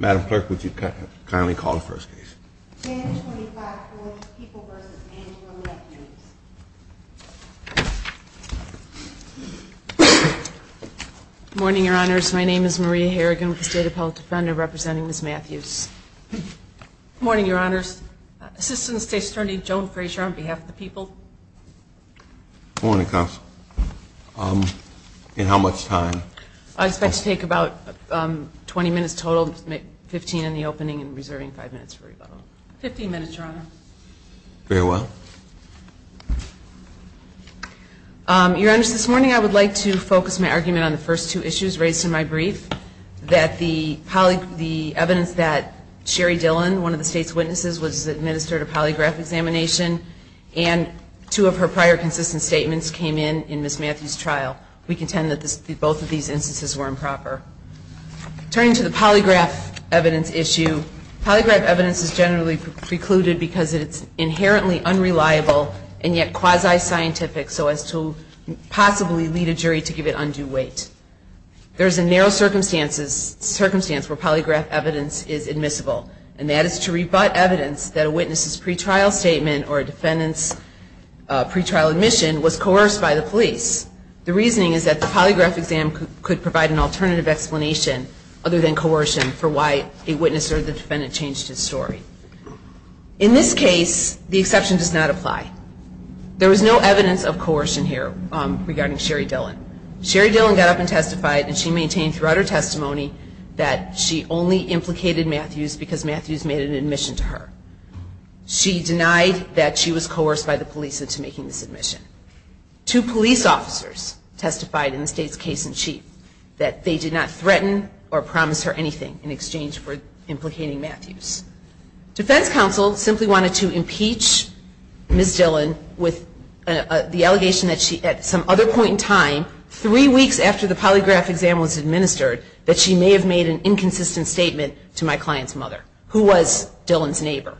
Morning, Your Honors. My name is Maria Harrigan with the State Appellate Defender representing Ms. Matthews. Morning, Your Honors. Assistant State's Attorney Joan Fraser on behalf of the people. Morning, Counsel. In how much time? I expect to take about 20 minutes total with 15 in the opening and reserving 5 minutes for rebuttal. 15 minutes, Your Honor. Very well. Your Honors, this morning I would like to focus my argument on the first two issues raised in my brief, that the evidence that Sherry Dillon, one of the State's witnesses, was administered a polygraph examination and two of her prior consistent statements came in in Ms. Matthews' trial. We contend that both of these instances were improper. Turning to the polygraph evidence issue, polygraph evidence is generally precluded because it is inherently unreliable and yet quasi-scientific so as to possibly lead a jury to give it undue weight. There is a narrow circumstance where polygraph evidence is admissible and that is to rebut evidence that a witness' pretrial statement or a defendant's pretrial admission was coerced by the police. The reasoning is that the polygraph exam could provide an alternative explanation other than coercion for why a witness or the defendant changed his story. In this case, the exception does not apply. There was no evidence of coercion here regarding Sherry Dillon. Sherry Dillon got up and testified and she maintained throughout her testimony that she only implicated Matthews because Matthews made an admission to her. She denied that she was coerced by the police into making this admission. Two police officers testified in the state's case-in-chief that they did not threaten or promise her anything in exchange for implicating Matthews. Defense counsel simply wanted to impeach Ms. Dillon with the allegation that she, at some other point in time, three weeks after the polygraph exam was administered, that she may have made an inconsistent statement to my client's mother, who was Dillon's neighbor.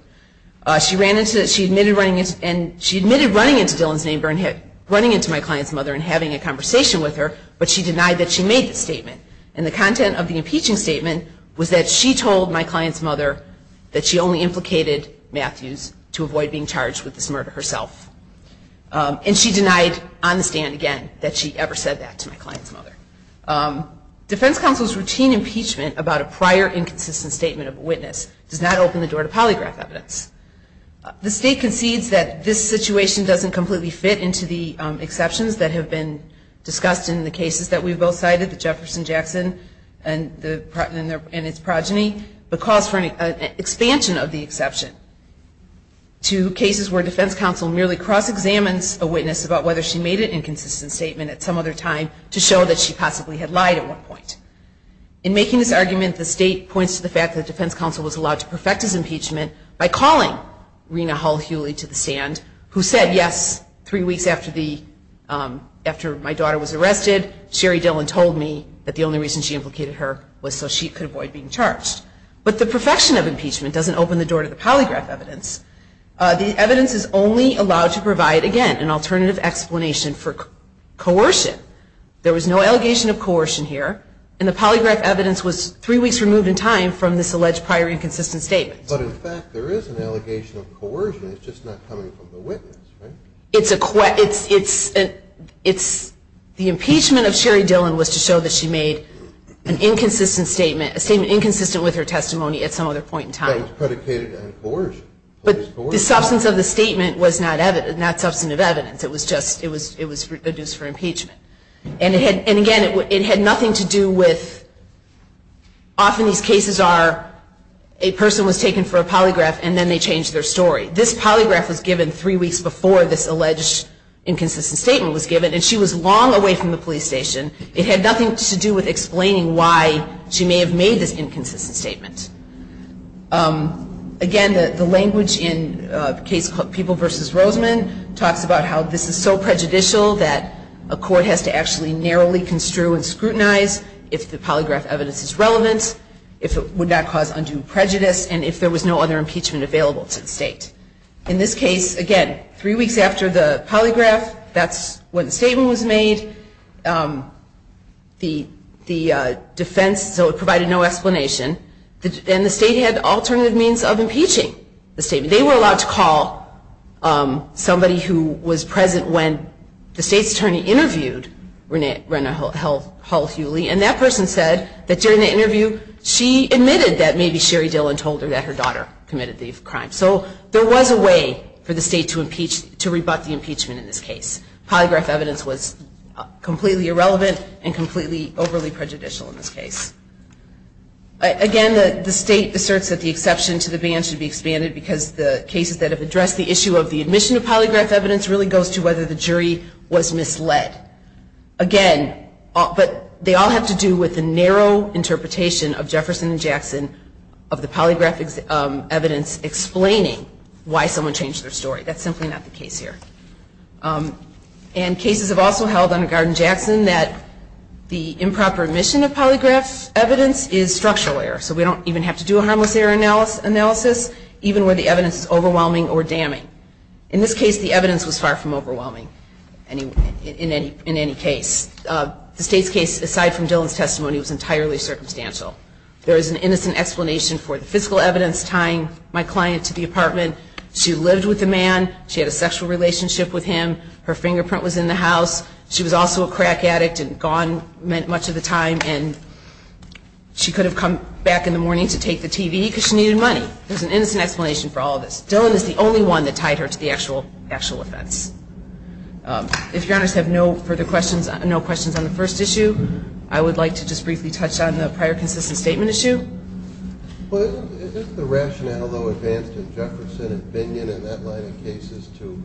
She admitted running into Dillon's neighbor and having a conversation with her, but she denied that she made the statement. And the content of the impeaching statement was that she told my client's mother that she only implicated Matthews to avoid being charged with this murder herself. And she denied on the stand again that she ever said that to my client's mother. Defense counsel's routine impeachment about a prior inconsistent statement of a witness does not open the door to polygraph evidence. The state concedes that this situation doesn't completely fit into the exceptions that have been discussed in the cases that we've both cited, the Jefferson-Jackson and its progeny, but calls for an expansion of the exception to cases where defense counsel merely cross-examines a witness about whether she made an inconsistent statement at some other time to show that she possibly had lied at one point. In making this argument, the state points to the fact that defense counsel was allowed to perfect his impeachment by calling Rena Hull-Huley to the stand, who said, yes, three weeks after my daughter was arrested, Sherry Dillon told me that the only reason she implicated her was so she could avoid being charged. But the perfection of impeachment doesn't open the door to the polygraph evidence. The evidence is only allowed to provide, again, an alternative explanation for coercion. There was no allegation of coercion here, and the polygraph evidence was three weeks removed in time from this alleged prior inconsistent statement. But in fact, there is an allegation of coercion. It's just not coming from the witness, right? It's a ques- it's, it's, it's, the impeachment of Sherry Dillon was to show that she made an inconsistent statement, a statement inconsistent with her testimony at some other point in time. But it was predicated on coercion. But the substance of the statement was not evidence, not substantive evidence. It was just, it was, it was reduced for impeachment. And it had, and again, it had nothing to do with, often these cases are, a person was taken for a polygraph and then they change their story. This polygraph was given three weeks before this alleged inconsistent statement was given, and she was long away from the police station. It had nothing to do with explaining why she may have made this inconsistent statement. Again, the, the language in a case called People v. Roseman talks about how this is so prejudicial that a court has to actually narrowly construe and scrutinize if the polygraph evidence is relevant, if it would not cause undue prejudice, and if there was no other impeachment available to the state. In this case, again, three weeks after the polygraph, that's when the statement was made. The, the defense, so it provided no explanation. And the state had alternative means of impeaching the statement. They were allowed to call somebody who was present when the state's attorney interviewed Rena, Rena Hull, Hull-Huley, and that person said that during the interview she admitted that maybe Sherry Dillon told her that her daughter committed these crimes. So there was a way for the state to impeach, to rebut the impeachment in this case. Polygraph evidence was completely irrelevant and completely overly prejudicial in this case. Again, the, the state asserts that the exception to the ban should be expanded because the cases that have addressed the issue of the admission of polygraph evidence really goes to whether the jury was misled. Again, but they all have to do with the narrow interpretation of Jefferson and Jackson of the polygraphic evidence explaining why someone changed their story. That's simply not the case here. And cases have also held under Garden-Jackson that the improper admission of polygraph evidence is structural error. So we don't even have to do a harmless error analysis, even where the evidence is overwhelming or damning. In this case, the evidence was far from overwhelming in any, in any case. The state's case, aside from Dillon's testimony, was entirely circumstantial. There is an innocent explanation for the physical evidence tying my client to the apartment. She lived with the man. She had a sexual relationship with him. Her fingerprint was in the house. She was also a crack addict and gone much of the time. And she could have come back in the morning to take the TV because she needed money. There's an innocent explanation for all of this. Dillon is the only one that tied her to the actual, actual offense. If your honors have no further questions, no questions on the first issue, I would like to just briefly touch on the prior consistent statement issue. Well, isn't the rationale, though, advanced in Jefferson and Binion and that line of cases to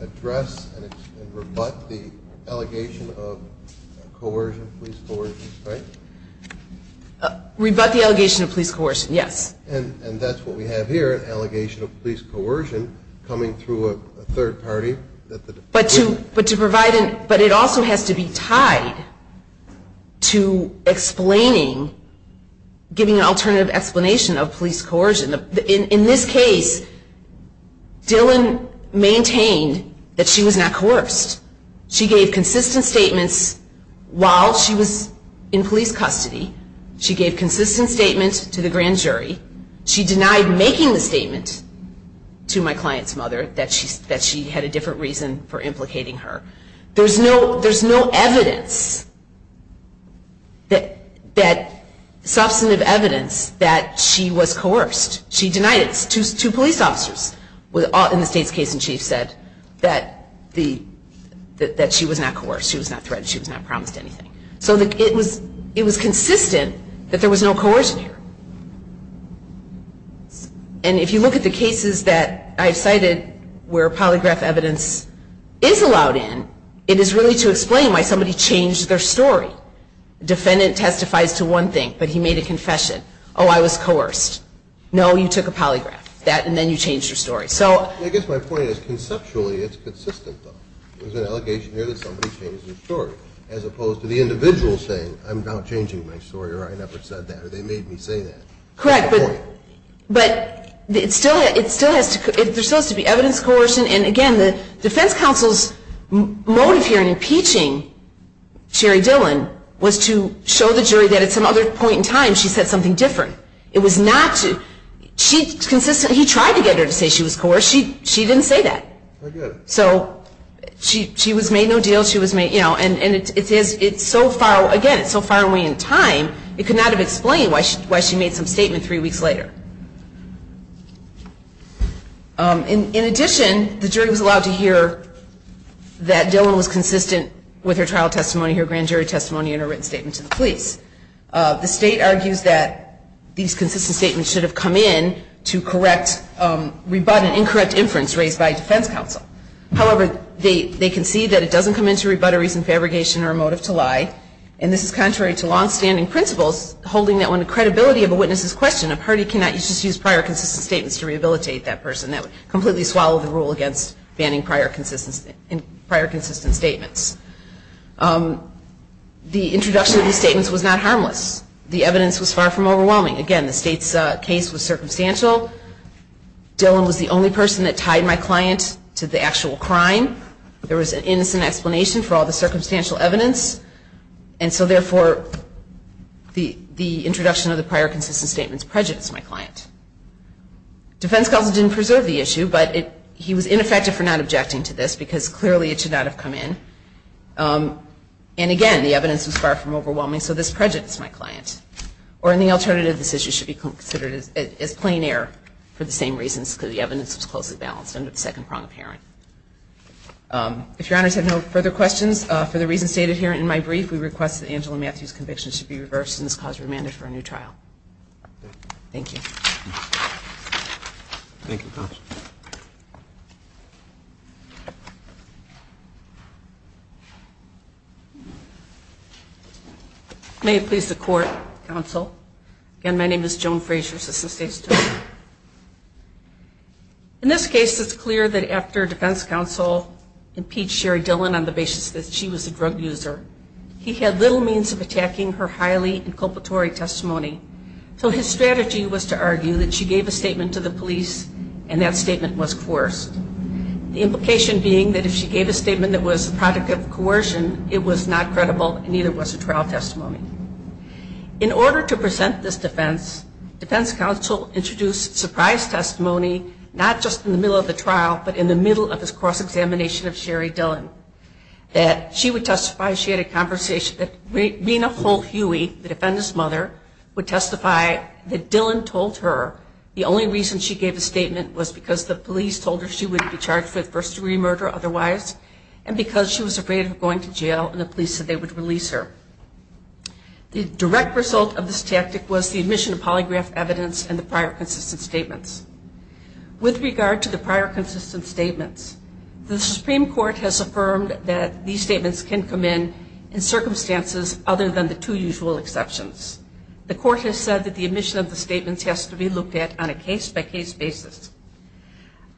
address and rebut the allegation of coercion, police coercion, right? Rebut the allegation of police coercion, yes. And that's what we have here, an allegation of police coercion coming through a third party. But to provide, but it also has to be tied to explaining, giving an alternative explanation of police coercion. In this case, Dillon maintained that she was not coerced. She gave consistent statements while she was in police custody. She gave consistent statements to the grand jury. She denied making the statement to my client's mother that she had a different reason for implicating her. There's no evidence that substantive evidence that she was coerced. She denied it. Two police officers in the state's case in chief said that she was not coerced, she was not threatened, she was not promised anything. So it was consistent that there was no coercion here. And if you look at the cases that I've cited where polygraph evidence is allowed in, it is really to explain why somebody changed their story. Defendant testifies to one thing, but he made a confession. Oh, I was coerced. No, you took a polygraph. That and then you changed your story. I guess my point is conceptually it's consistent though. There's an allegation here that somebody changed their story. As opposed to the individual saying, I'm not changing my story or I never said that or they made me say that. Correct, but there still has to be evidence coercion. And again, the defense counsel's motive here in impeaching Sherry Dillon was to show the jury that at some other point in time she said something different. It was not to, she consistently, he tried to get her to say she was coerced. She didn't say that. I get it. So she was made no deal. And it's so far, again, it's so far away in time, it could not have explained why she made some statement three weeks later. In addition, the jury was allowed to hear that Dillon was consistent with her trial testimony, her grand jury testimony, and her written statement to the police. The state argues that these consistent statements should have come in to correct, rebut and incorrect inference raised by defense counsel. However, they concede that it doesn't come in to rebutteries and fabrication or a motive to lie. And this is contrary to longstanding principles, holding that when the credibility of a witness is questioned, a party cannot just use prior consistent statements to rehabilitate that person. That would completely swallow the rule against banning prior consistent statements. The introduction of these statements was not harmless. The evidence was far from overwhelming. Again, the state's case was circumstantial. Dillon was the only person that tied my client to the actual crime. There was an innocent explanation for all the circumstantial evidence. And so, therefore, the introduction of the prior consistent statements prejudiced my client. Defense counsel didn't preserve the issue, but he was ineffective for not objecting to this, because clearly it should not have come in. And, again, the evidence was far from overwhelming, so this prejudiced my client. Or, in the alternative, this issue should be considered as plain error for the same reasons, because the evidence was closely balanced under the second prong of Herring. If Your Honors have no further questions, for the reasons stated here in my brief, we request that Angela Matthews' conviction should be reversed and this cause remanded for a new trial. Thank you. Thank you, counsel. May it please the court, counsel. Again, my name is Joan Frazier, assistant state's attorney. In this case, it's clear that after defense counsel impeached Sherry Dillon on the basis that she was a drug user, he had little means of attacking her highly inculpatory testimony. So his strategy was to argue that she gave a statement to the police, and that's all. The implication being that if she gave a statement that was the product of coercion, it was not credible, and neither was the trial testimony. In order to present this defense, defense counsel introduced surprise testimony, not just in the middle of the trial, but in the middle of his cross-examination of Sherry Dillon, that she would testify she had a conversation that Rina Holt-Huey, the defendant's mother, would testify that Dillon told her the only reason she gave a statement was because the police told her she wouldn't be charged with first-degree murder otherwise, and because she was afraid of going to jail and the police said they would release her. The direct result of this tactic was the admission of polygraph evidence and the prior consistent statements. With regard to the prior consistent statements, the Supreme Court has affirmed that these statements can come in in circumstances other than the two usual exceptions. The court has said that the admission of the statements has to be looked at on a case-by-case basis.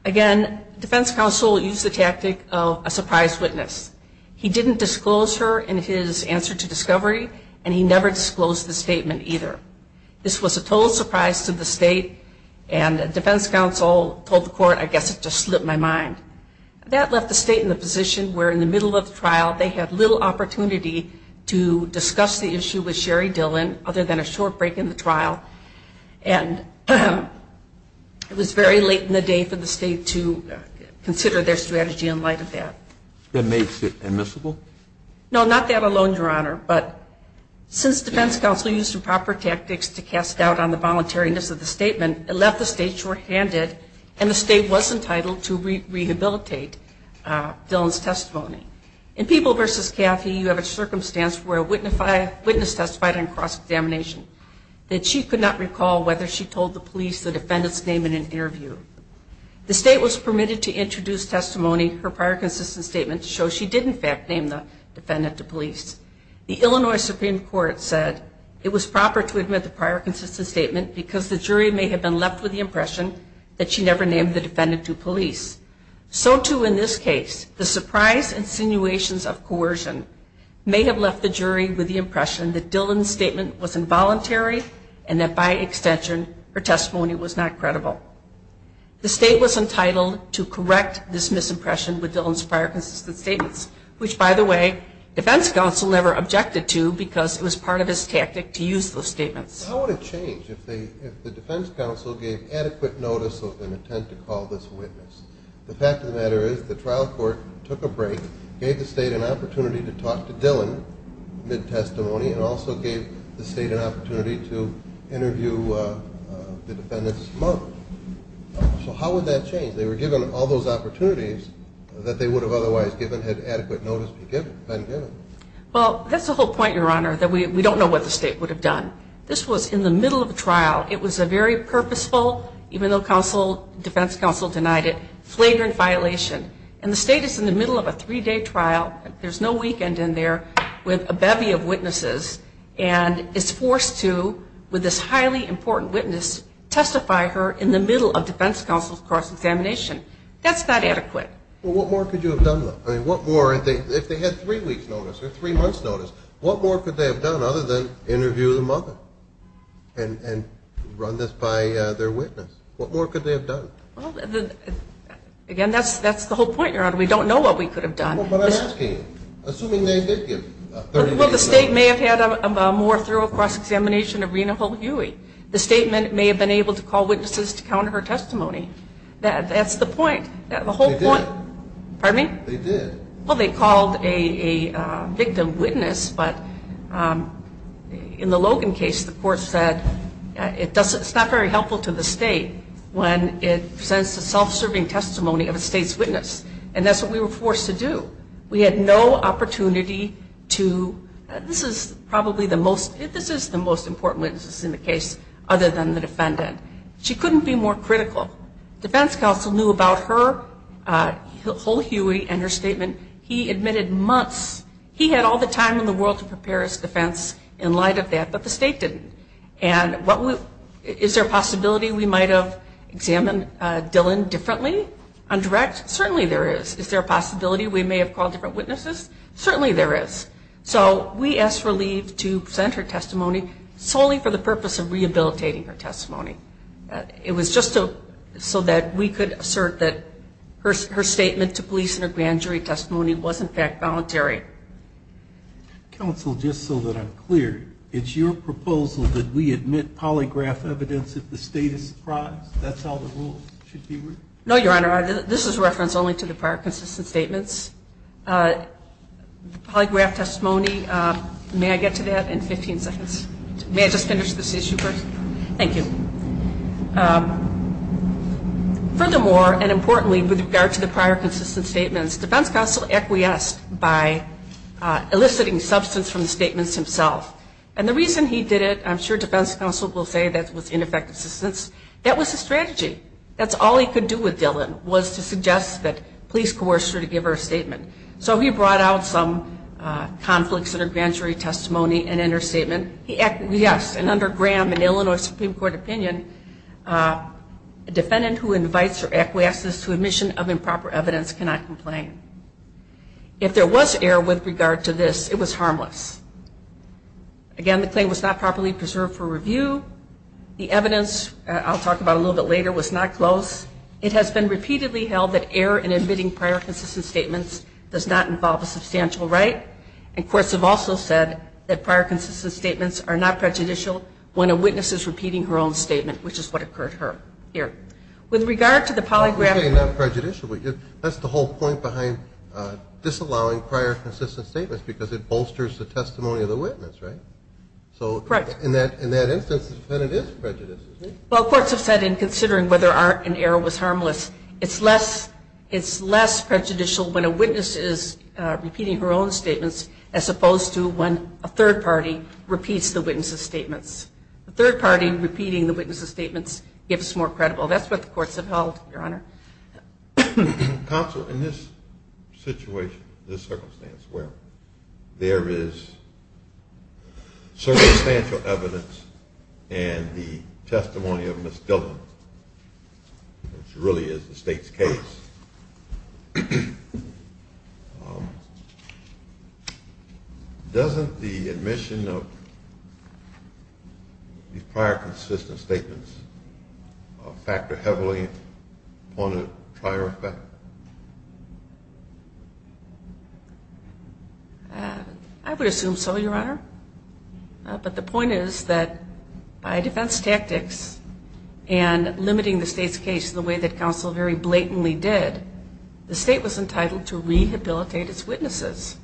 Again, defense counsel used the tactic of a surprise witness. He didn't disclose her in his answer to discovery, and he never disclosed the statement either. This was a total surprise to the state, and defense counsel told the court, I guess it just slipped my mind. That left the state in the position where in the middle of the trial, they had little opportunity to discuss the issue with Sherry Dillon other than a short break in the trial, and it was very late in the day for the state to consider their strategy in light of that. That makes it admissible? No, not that alone, Your Honor, but since defense counsel used improper tactics to cast doubt on the voluntariness of the statement, it left the state shorthanded, and the state was entitled to rehabilitate Dillon's testimony. In People v. Cathy, you have a circumstance where a witness testified on cross-examination, that she could not recall whether she told the police the defendant's name in an interview. The state was permitted to introduce testimony, her prior consistent statement, to show she did in fact name the defendant to police. The Illinois Supreme Court said it was proper to admit the prior consistent statement because the jury may have been left with the impression that she never named the defendant to police. So too in this case, the surprise insinuations of coercion may have left the jury with the impression that Dillon's statement was involuntary, and that by extension, her testimony was not credible. The state was entitled to correct this misimpression with Dillon's prior consistent statements, which by the way, defense counsel never objected to because it was part of his tactic to use those statements. How would it change if the defense counsel gave adequate notice of an attempt to call this witness? The fact of the matter is the trial court took a break, gave the state an opportunity to talk to Dillon mid-testimony, and also gave the state an opportunity to interview the defendant's mother. So how would that change? They were given all those opportunities that they would have otherwise given had adequate notice been given. Well, that's the whole point, Your Honor, that we don't know what the state would have done. This was in the middle of a trial. It was a very purposeful, even though defense counsel denied it, flagrant violation. And the state is in the middle of a three-day trial, there's no weekend in there, with a bevy of witnesses, and is forced to, with this highly important witness, testify her in the middle of defense counsel's cross-examination. That's not adequate. Well, what more could you have done, though? I mean, what more, if they had three weeks' notice or three months' notice, what more could they have done other than interview the mother and run this by their witness? What more could they have done? Again, that's the whole point, Your Honor. We don't know what we could have done. Well, but I'm asking you, assuming they did give 30 days' notice. Well, the state may have had a more thorough cross-examination of Rena Hull-Huey. The state may have been able to call witnesses to counter her testimony. That's the point. They did. Pardon me? They did. Well, they called a victim witness, but in the Logan case, the court said it's not very helpful to the state when it presents a self-serving testimony of a state's witness. And that's what we were forced to do. We had no opportunity to, this is probably the most, this is the most important witness in the case, other than the defendant. She couldn't be more critical. Defense counsel knew about her, Hull-Huey, and her statement. He admitted months. He had all the time in the world to prepare his defense in light of that, but the state didn't. And is there a possibility we might have examined Dillon differently, on direct? Certainly there is. Is there a possibility we may have called different witnesses? Certainly there is. So we asked for leave to present her testimony solely for the purpose of rehabilitating her testimony. It was just so that we could assert that her statement to police and her grand jury testimony was, in fact, voluntary. Counsel, just so that I'm clear, it's your proposal that we admit polygraph evidence if the state is surprised? That's how the rules should be written? No, Your Honor, this is reference only to the prior consistent statements. Polygraph testimony, may I get to that in 15 seconds? May I just finish this issue first? Thank you. Furthermore, and importantly with regard to the prior consistent statements, defense counsel acquiesced by eliciting substance from the statements himself. And the reason he did it, I'm sure defense counsel will say that was ineffective assistance, that was his strategy. That's all he could do with Dillon was to suggest that police coerce her to give her a statement. So he brought out some conflicts in her grand jury testimony and in her statement. Yes, and under Graham and Illinois Supreme Court opinion, a defendant who invites or acquiesces to admission of improper evidence cannot complain. If there was error with regard to this, it was harmless. Again, the claim was not properly preserved for review. The evidence, I'll talk about a little bit later, was not close. It has been repeatedly held that error in admitting prior consistent statements does not involve a substantial right. And courts have also said that prior consistent statements are not prejudicial when a witness is repeating her own statement, which is what occurred here. With regard to the polygraph. That's the whole point behind disallowing prior consistent statements, because it bolsters the testimony of the witness, right? Correct. But in that instance, the defendant is prejudiced. Well, courts have said in considering whether or not an error was harmless, it's less prejudicial when a witness is repeating her own statements, as opposed to when a third party repeats the witness's statements. The third party repeating the witness's statements gives more credible. That's what the courts have held, Your Honor. Counsel, in this situation, this circumstance where there is circumstantial evidence and the testimony of Ms. Dillon, which really is the State's case, doesn't the admission of these prior consistent statements factor heavily on a prior effect? I would assume so, Your Honor. But the point is that by defense tactics and limiting the State's case the way that counsel very blatantly did, the State was entitled to rehabilitate its witnesses.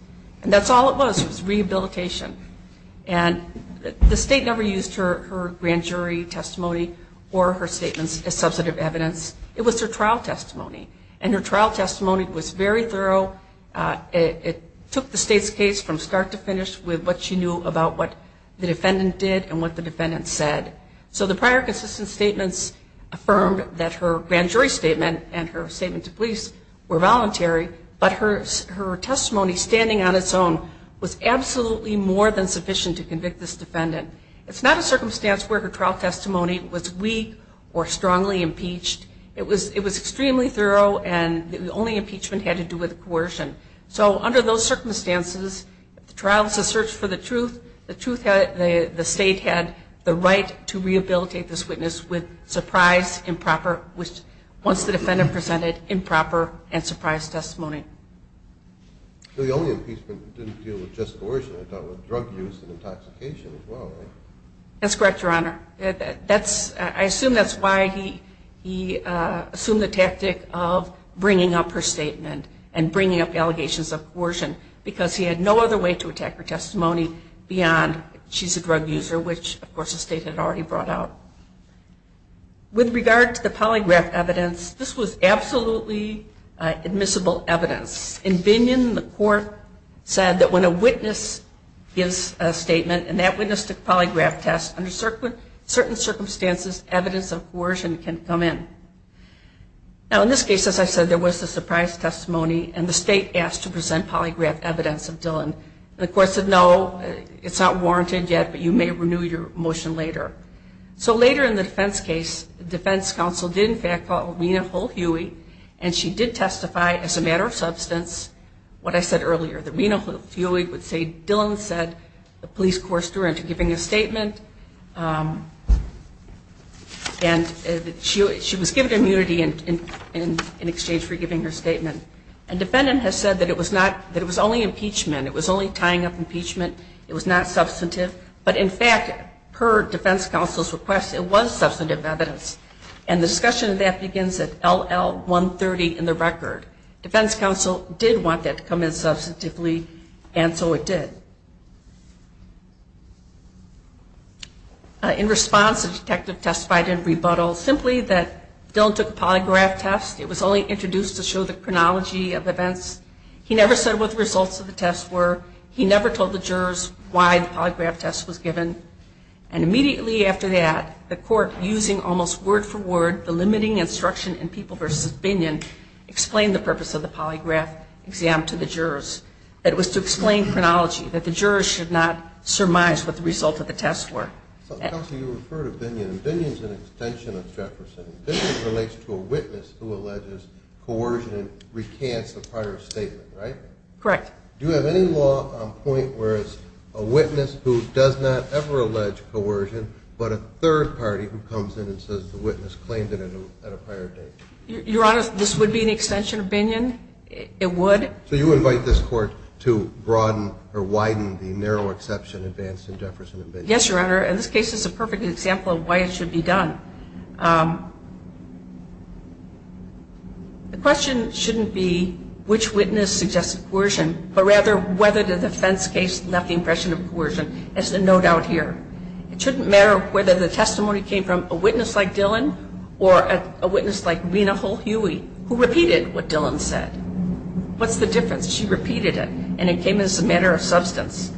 And that's all it was. It was rehabilitation. And the State never used her grand jury testimony or her statements as substantive evidence. It was her trial testimony. And her trial testimony was very thorough. It took the State's case from start to finish with what she knew about what the defendant did and what the defendant said. So the prior consistent statements affirmed that her grand jury statement and her statement to police were voluntary, but her testimony standing on its own was absolutely more than sufficient to convict this defendant. It's not a circumstance where her trial testimony was weak or strongly impeached. It was extremely thorough, and the only impeachment had to do with coercion. So under those circumstances, the trial is a search for the truth. The State had the right to rehabilitate this witness with surprise, improper, once the defendant presented improper and surprise testimony. So the only impeachment didn't deal with just coercion. It dealt with drug use and intoxication as well, right? That's correct, Your Honor. I assume that's why he assumed the tactic of bringing up her statement and bringing up allegations of coercion, because he had no other way to attack her testimony beyond she's a drug user, which, of course, the State had already brought out. With regard to the polygraph evidence, this was absolutely admissible evidence. In Binion, the court said that when a witness gives a statement and that witness took a polygraph test, under certain circumstances, evidence of coercion can come in. Now, in this case, as I said, there was a surprise testimony, and the State asked to present polygraph evidence of Dillon. The court said, no, it's not warranted yet, but you may renew your motion later. So later in the defense case, the defense counsel did, in fact, call Rena Hull-Huey, and she did testify as a matter of substance, what I said earlier, that Rena Hull-Huey would say Dillon said the police coerced her into giving a statement, and she was given immunity in exchange for giving her statement. A defendant has said that it was only impeachment. It was only tying up impeachment. It was not substantive, but, in fact, per defense counsel's request, it was substantive evidence, and the discussion of that begins at LL130 in the record. Defense counsel did want that to come in substantively, and so it did. In response, the detective testified in rebuttal simply that Dillon took a polygraph test. It was only introduced to show the chronology of events. He never said what the results of the test were. He never told the jurors why the polygraph test was given, and immediately after that, the court, using almost word-for-word the limiting instruction in People v. Binion, explained the purpose of the polygraph exam to the jurors. It was to explain chronology, that the jurors should not surmise what the results of the test were. Counsel, you refer to Binion, and Binion is an extension of Jefferson. Binion relates to a witness who alleges coercion and recants the prior statement, right? Correct. Do you have any law on point where it's a witness who does not ever allege coercion, but a third party who comes in and says the witness claimed it at a prior date? Your Honor, this would be an extension of Binion. It would. So you invite this court to broaden or widen the narrow exception advanced in Jefferson and Binion? Yes, Your Honor, and this case is a perfect example of why it should be done. The question shouldn't be which witness suggested coercion, but rather whether the defense case left the impression of coercion. There's no doubt here. It shouldn't matter whether the testimony came from a witness like Dillon or a witness like Rena Hull-Huey, who repeated what Dillon said. What's the difference? She repeated it, and it came as a matter of substance.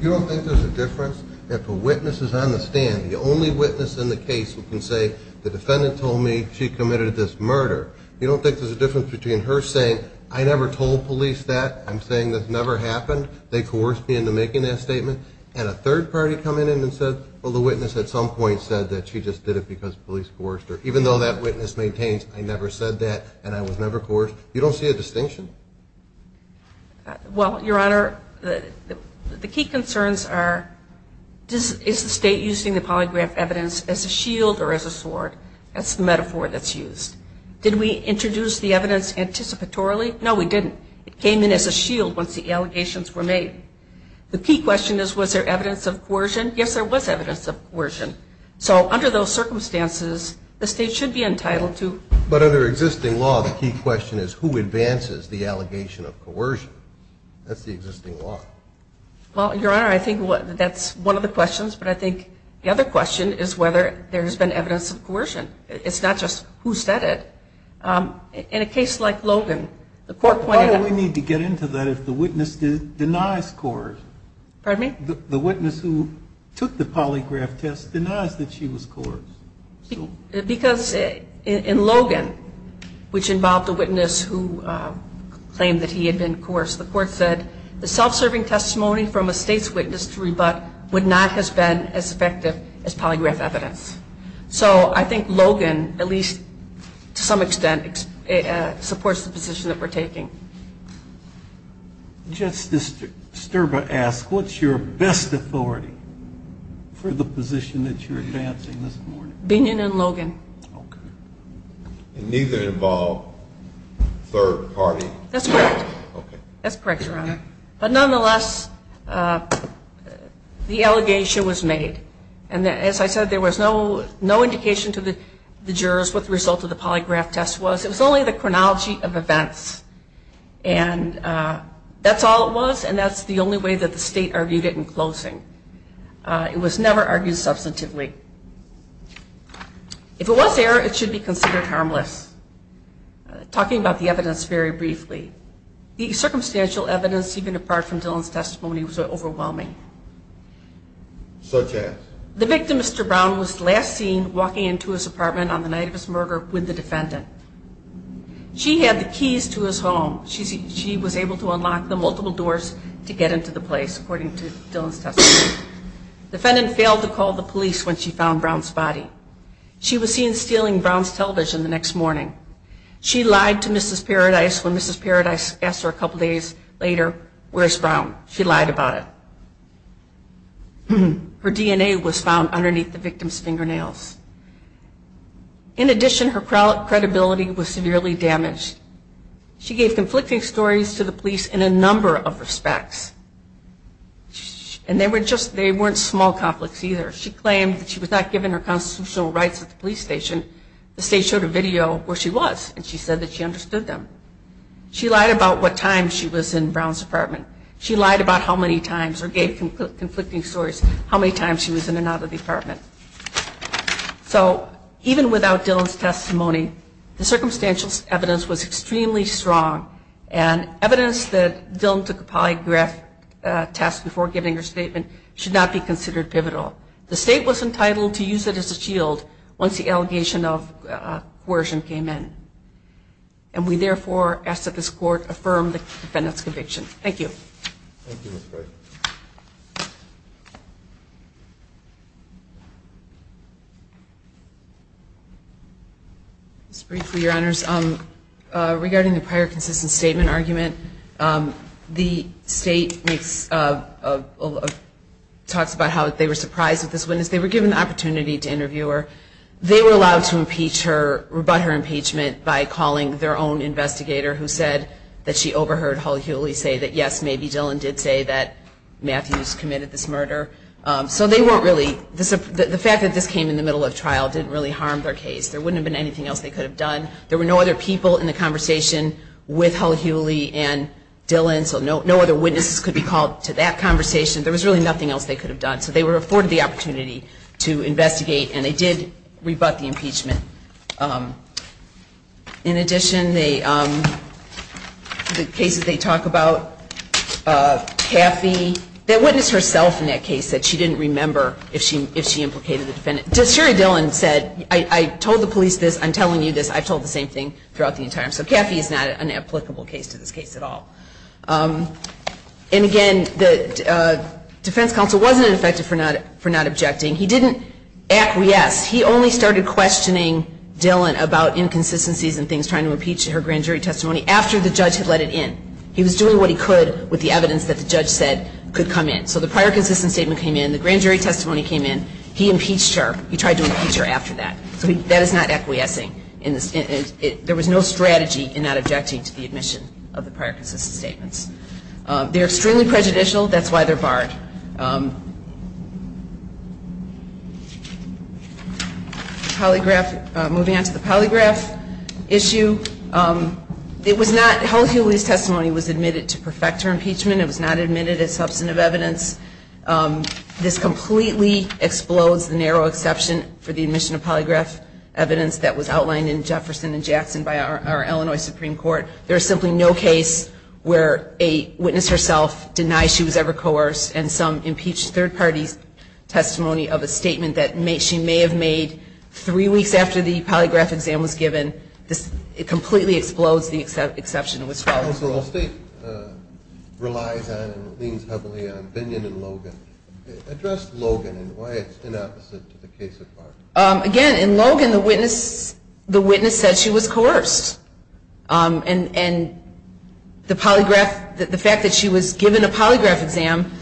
You don't think there's a difference if a witness is on the stand, the only witness in the case who can say, the defendant told me she committed this murder. You don't think there's a difference between her saying, I never told police that, I'm saying this never happened, they coerced me into making that statement, and a third party come in and said, well, the witness at some point said that she just did it because the police coerced her, even though that witness maintains, I never said that and I was never coerced. You don't see a distinction? Well, Your Honor, the key concerns are, is the state using the polygraph evidence as a shield or as a sword? That's the metaphor that's used. Did we introduce the evidence anticipatorily? No, we didn't. It came in as a shield once the allegations were made. The key question is, was there evidence of coercion? Yes, there was evidence of coercion. So under those circumstances, the state should be entitled to. But under existing law, the key question is, who advances the allegation of coercion? That's the existing law. Well, Your Honor, I think that's one of the questions, but I think the other question is whether there's been evidence of coercion. It's not just who said it. In a case like Logan, the court pointed out to us. Why do we need to get into that if the witness denies coercion? Pardon me? The witness who took the polygraph test denies that she was coerced. Because in Logan, which involved a witness who claimed that he had been coerced, the court said the self-serving testimony from a state's witness to rebut would not have been as effective as polygraph evidence. So I think Logan, at least to some extent, supports the position that we're taking. Justice Sterba asks, what's your best authority for the position that you're advancing this morning? Binion and Logan. Okay. And neither involve third party. That's correct. Okay. That's correct, Your Honor. But nonetheless, the allegation was made. And as I said, there was no indication to the jurors what the result of the polygraph test was. It was only the chronology of events. And that's all it was, and that's the only way that the state argued it in closing. It was never argued substantively. If it was there, it should be considered harmless. Talking about the evidence very briefly, the circumstantial evidence, even apart from Dillon's testimony, was overwhelming. Such as? The victim, Mr. Brown, was last seen walking into his apartment on the night of his murder with the defendant. She had the keys to his home. She was able to unlock the multiple doors to get into the place, according to Dillon's testimony. The defendant failed to call the police when she found Brown's body. She was seen stealing Brown's television the next morning. She lied to Mrs. Paradise when Mrs. Paradise asked her a couple days later, where's Brown? She lied about it. Her DNA was found underneath the victim's fingernails. In addition, her credibility was severely damaged. She gave conflicting stories to the police in a number of respects. And they weren't small conflicts either. She claimed that she was not given her constitutional rights at the police station. The state showed a video where she was, and she said that she understood them. She lied about what time she was in Brown's apartment. She lied about how many times, or gave conflicting stories, how many times she was in and out of the apartment. So even without Dillon's testimony, the circumstantial evidence was extremely strong. And evidence that Dillon took a polygraph test before giving her statement should not be considered pivotal. The state was entitled to use it as a shield once the allegation of coercion came in. And we therefore ask that this court affirm the defendant's conviction. Thank you. Thank you, Ms. Gray. Just briefly, Your Honors, regarding the prior consistent statement argument, the state talks about how they were surprised with this witness. They were given the opportunity to interview her. They were allowed to rebut her impeachment by calling their own investigator, who said that she overheard Hull Hewley say that, yes, maybe Dillon did say that Matthews committed this murder. So they weren't really – the fact that this came in the middle of trial didn't really harm their case. There wouldn't have been anything else they could have done. There were no other people in the conversation with Hull Hewley and Dillon, so no other witnesses could be called to that conversation. There was really nothing else they could have done. In addition, the cases they talk about, Caffey, that witness herself in that case said she didn't remember if she implicated the defendant. Sherry Dillon said, I told the police this, I'm telling you this, I've told the same thing throughout the entire – so Caffey is not an applicable case to this case at all. And again, the defense counsel wasn't affected for not objecting. He didn't acquiesce. He only started questioning Dillon about inconsistencies and things trying to impeach her grand jury testimony after the judge had let it in. He was doing what he could with the evidence that the judge said could come in. So the prior consistent statement came in. The grand jury testimony came in. He impeached her. He tried to impeach her after that. So that is not acquiescing. There was no strategy in not objecting to the admission of the prior consistent statements. They're extremely prejudicial. That's why they're barred. Moving on to the polygraph issue. It was not – Helen Healy's testimony was admitted to perfect her impeachment. It was not admitted as substantive evidence. This completely explodes the narrow exception for the admission of polygraph evidence that was outlined in Jefferson and Jackson by our Illinois Supreme Court. There is simply no case where a witness herself denied she was ever coerced and some impeached third party's testimony of a statement that she may have made three weeks after the polygraph exam was given. It completely explodes the exception that was followed. Counsel, the state relies on and leans heavily on Binion and Logan. Address Logan and why it's inopposite to the case at large. Again, in Logan, the witness said she was coerced. And the fact that she was given a polygraph exam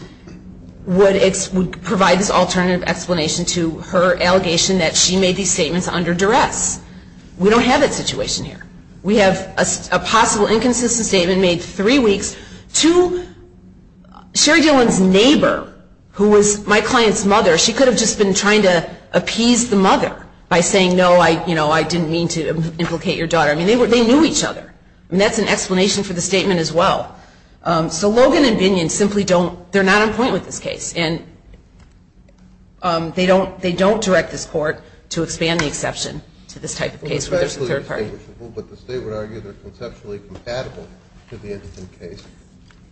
would provide this alternative explanation to her allegation that she made these statements under duress. We don't have that situation here. We have a possible inconsistent statement made three weeks to Sherry Dillon's neighbor, who was my client's mother. She could have just been trying to appease the mother by saying, no, I didn't mean to implicate your daughter. They knew each other. That's an explanation for the statement as well. So Logan and Binion simply don't – they're not on point with this case. And they don't direct this court to expand the exception to this type of case where there's a third party. But the state would argue they're conceptually compatible to the incident case.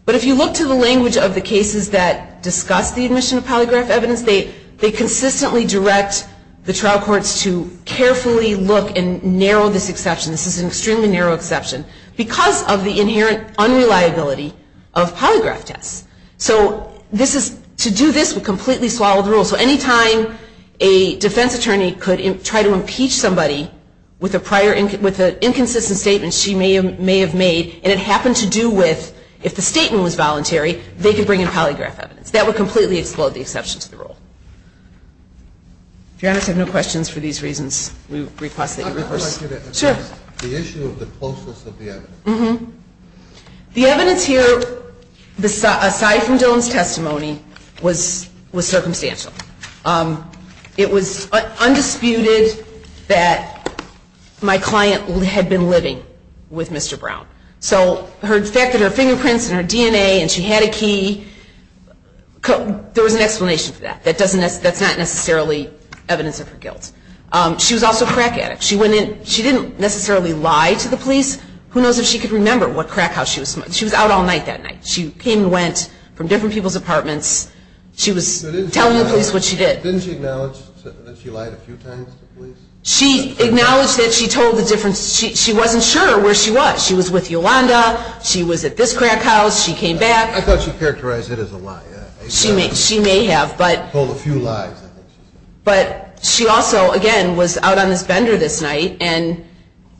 But if you look to the language of the cases that discuss the admission of polygraph evidence, they consistently direct the trial courts to carefully look and narrow this exception. This is an extremely narrow exception because of the inherent unreliability of polygraph tests. So to do this would completely swallow the rule. So any time a defense attorney could try to impeach somebody with an inconsistent statement she may have made, and it happened to do with if the statement was voluntary, they could bring in polygraph evidence. That would completely explode the exception to the rule. If you have no questions for these reasons, we request that you rehearse. I would like you to address the issue of the closeness of the evidence. The evidence here, aside from Dylan's testimony, was circumstantial. It was undisputed that my client had been living with Mr. Brown. So the fact that her fingerprints and her DNA and she had a key, there was an explanation for that. That's not necessarily evidence of her guilt. She was also a crack addict. She didn't necessarily lie to the police. Who knows if she could remember what crack house she was in. She was out all night that night. She came and went from different people's apartments. She was telling the police what she did. Didn't she acknowledge that she lied a few times to the police? She acknowledged that she told the difference. She wasn't sure where she was. She was with Yolanda. She was at this crack house. She came back. I thought she characterized it as a lie. She may have, but she also, again, was out on this bender this night. And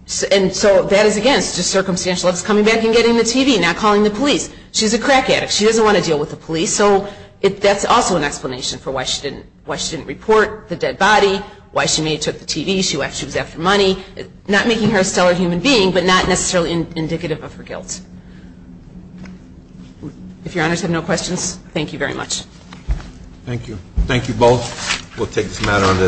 so that is, again, just circumstantial. She's coming back and getting the TV and not calling the police. She's a crack addict. She doesn't want to deal with the police. So that's also an explanation for why she didn't report the dead body, why she may have took the TV. She was after money. Not making her a stellar human being, but not necessarily indicative of her guilt. If Your Honors have no questions, thank you very much. Thank you. Thank you both. We'll take this matter under the advisory. Court is resolved.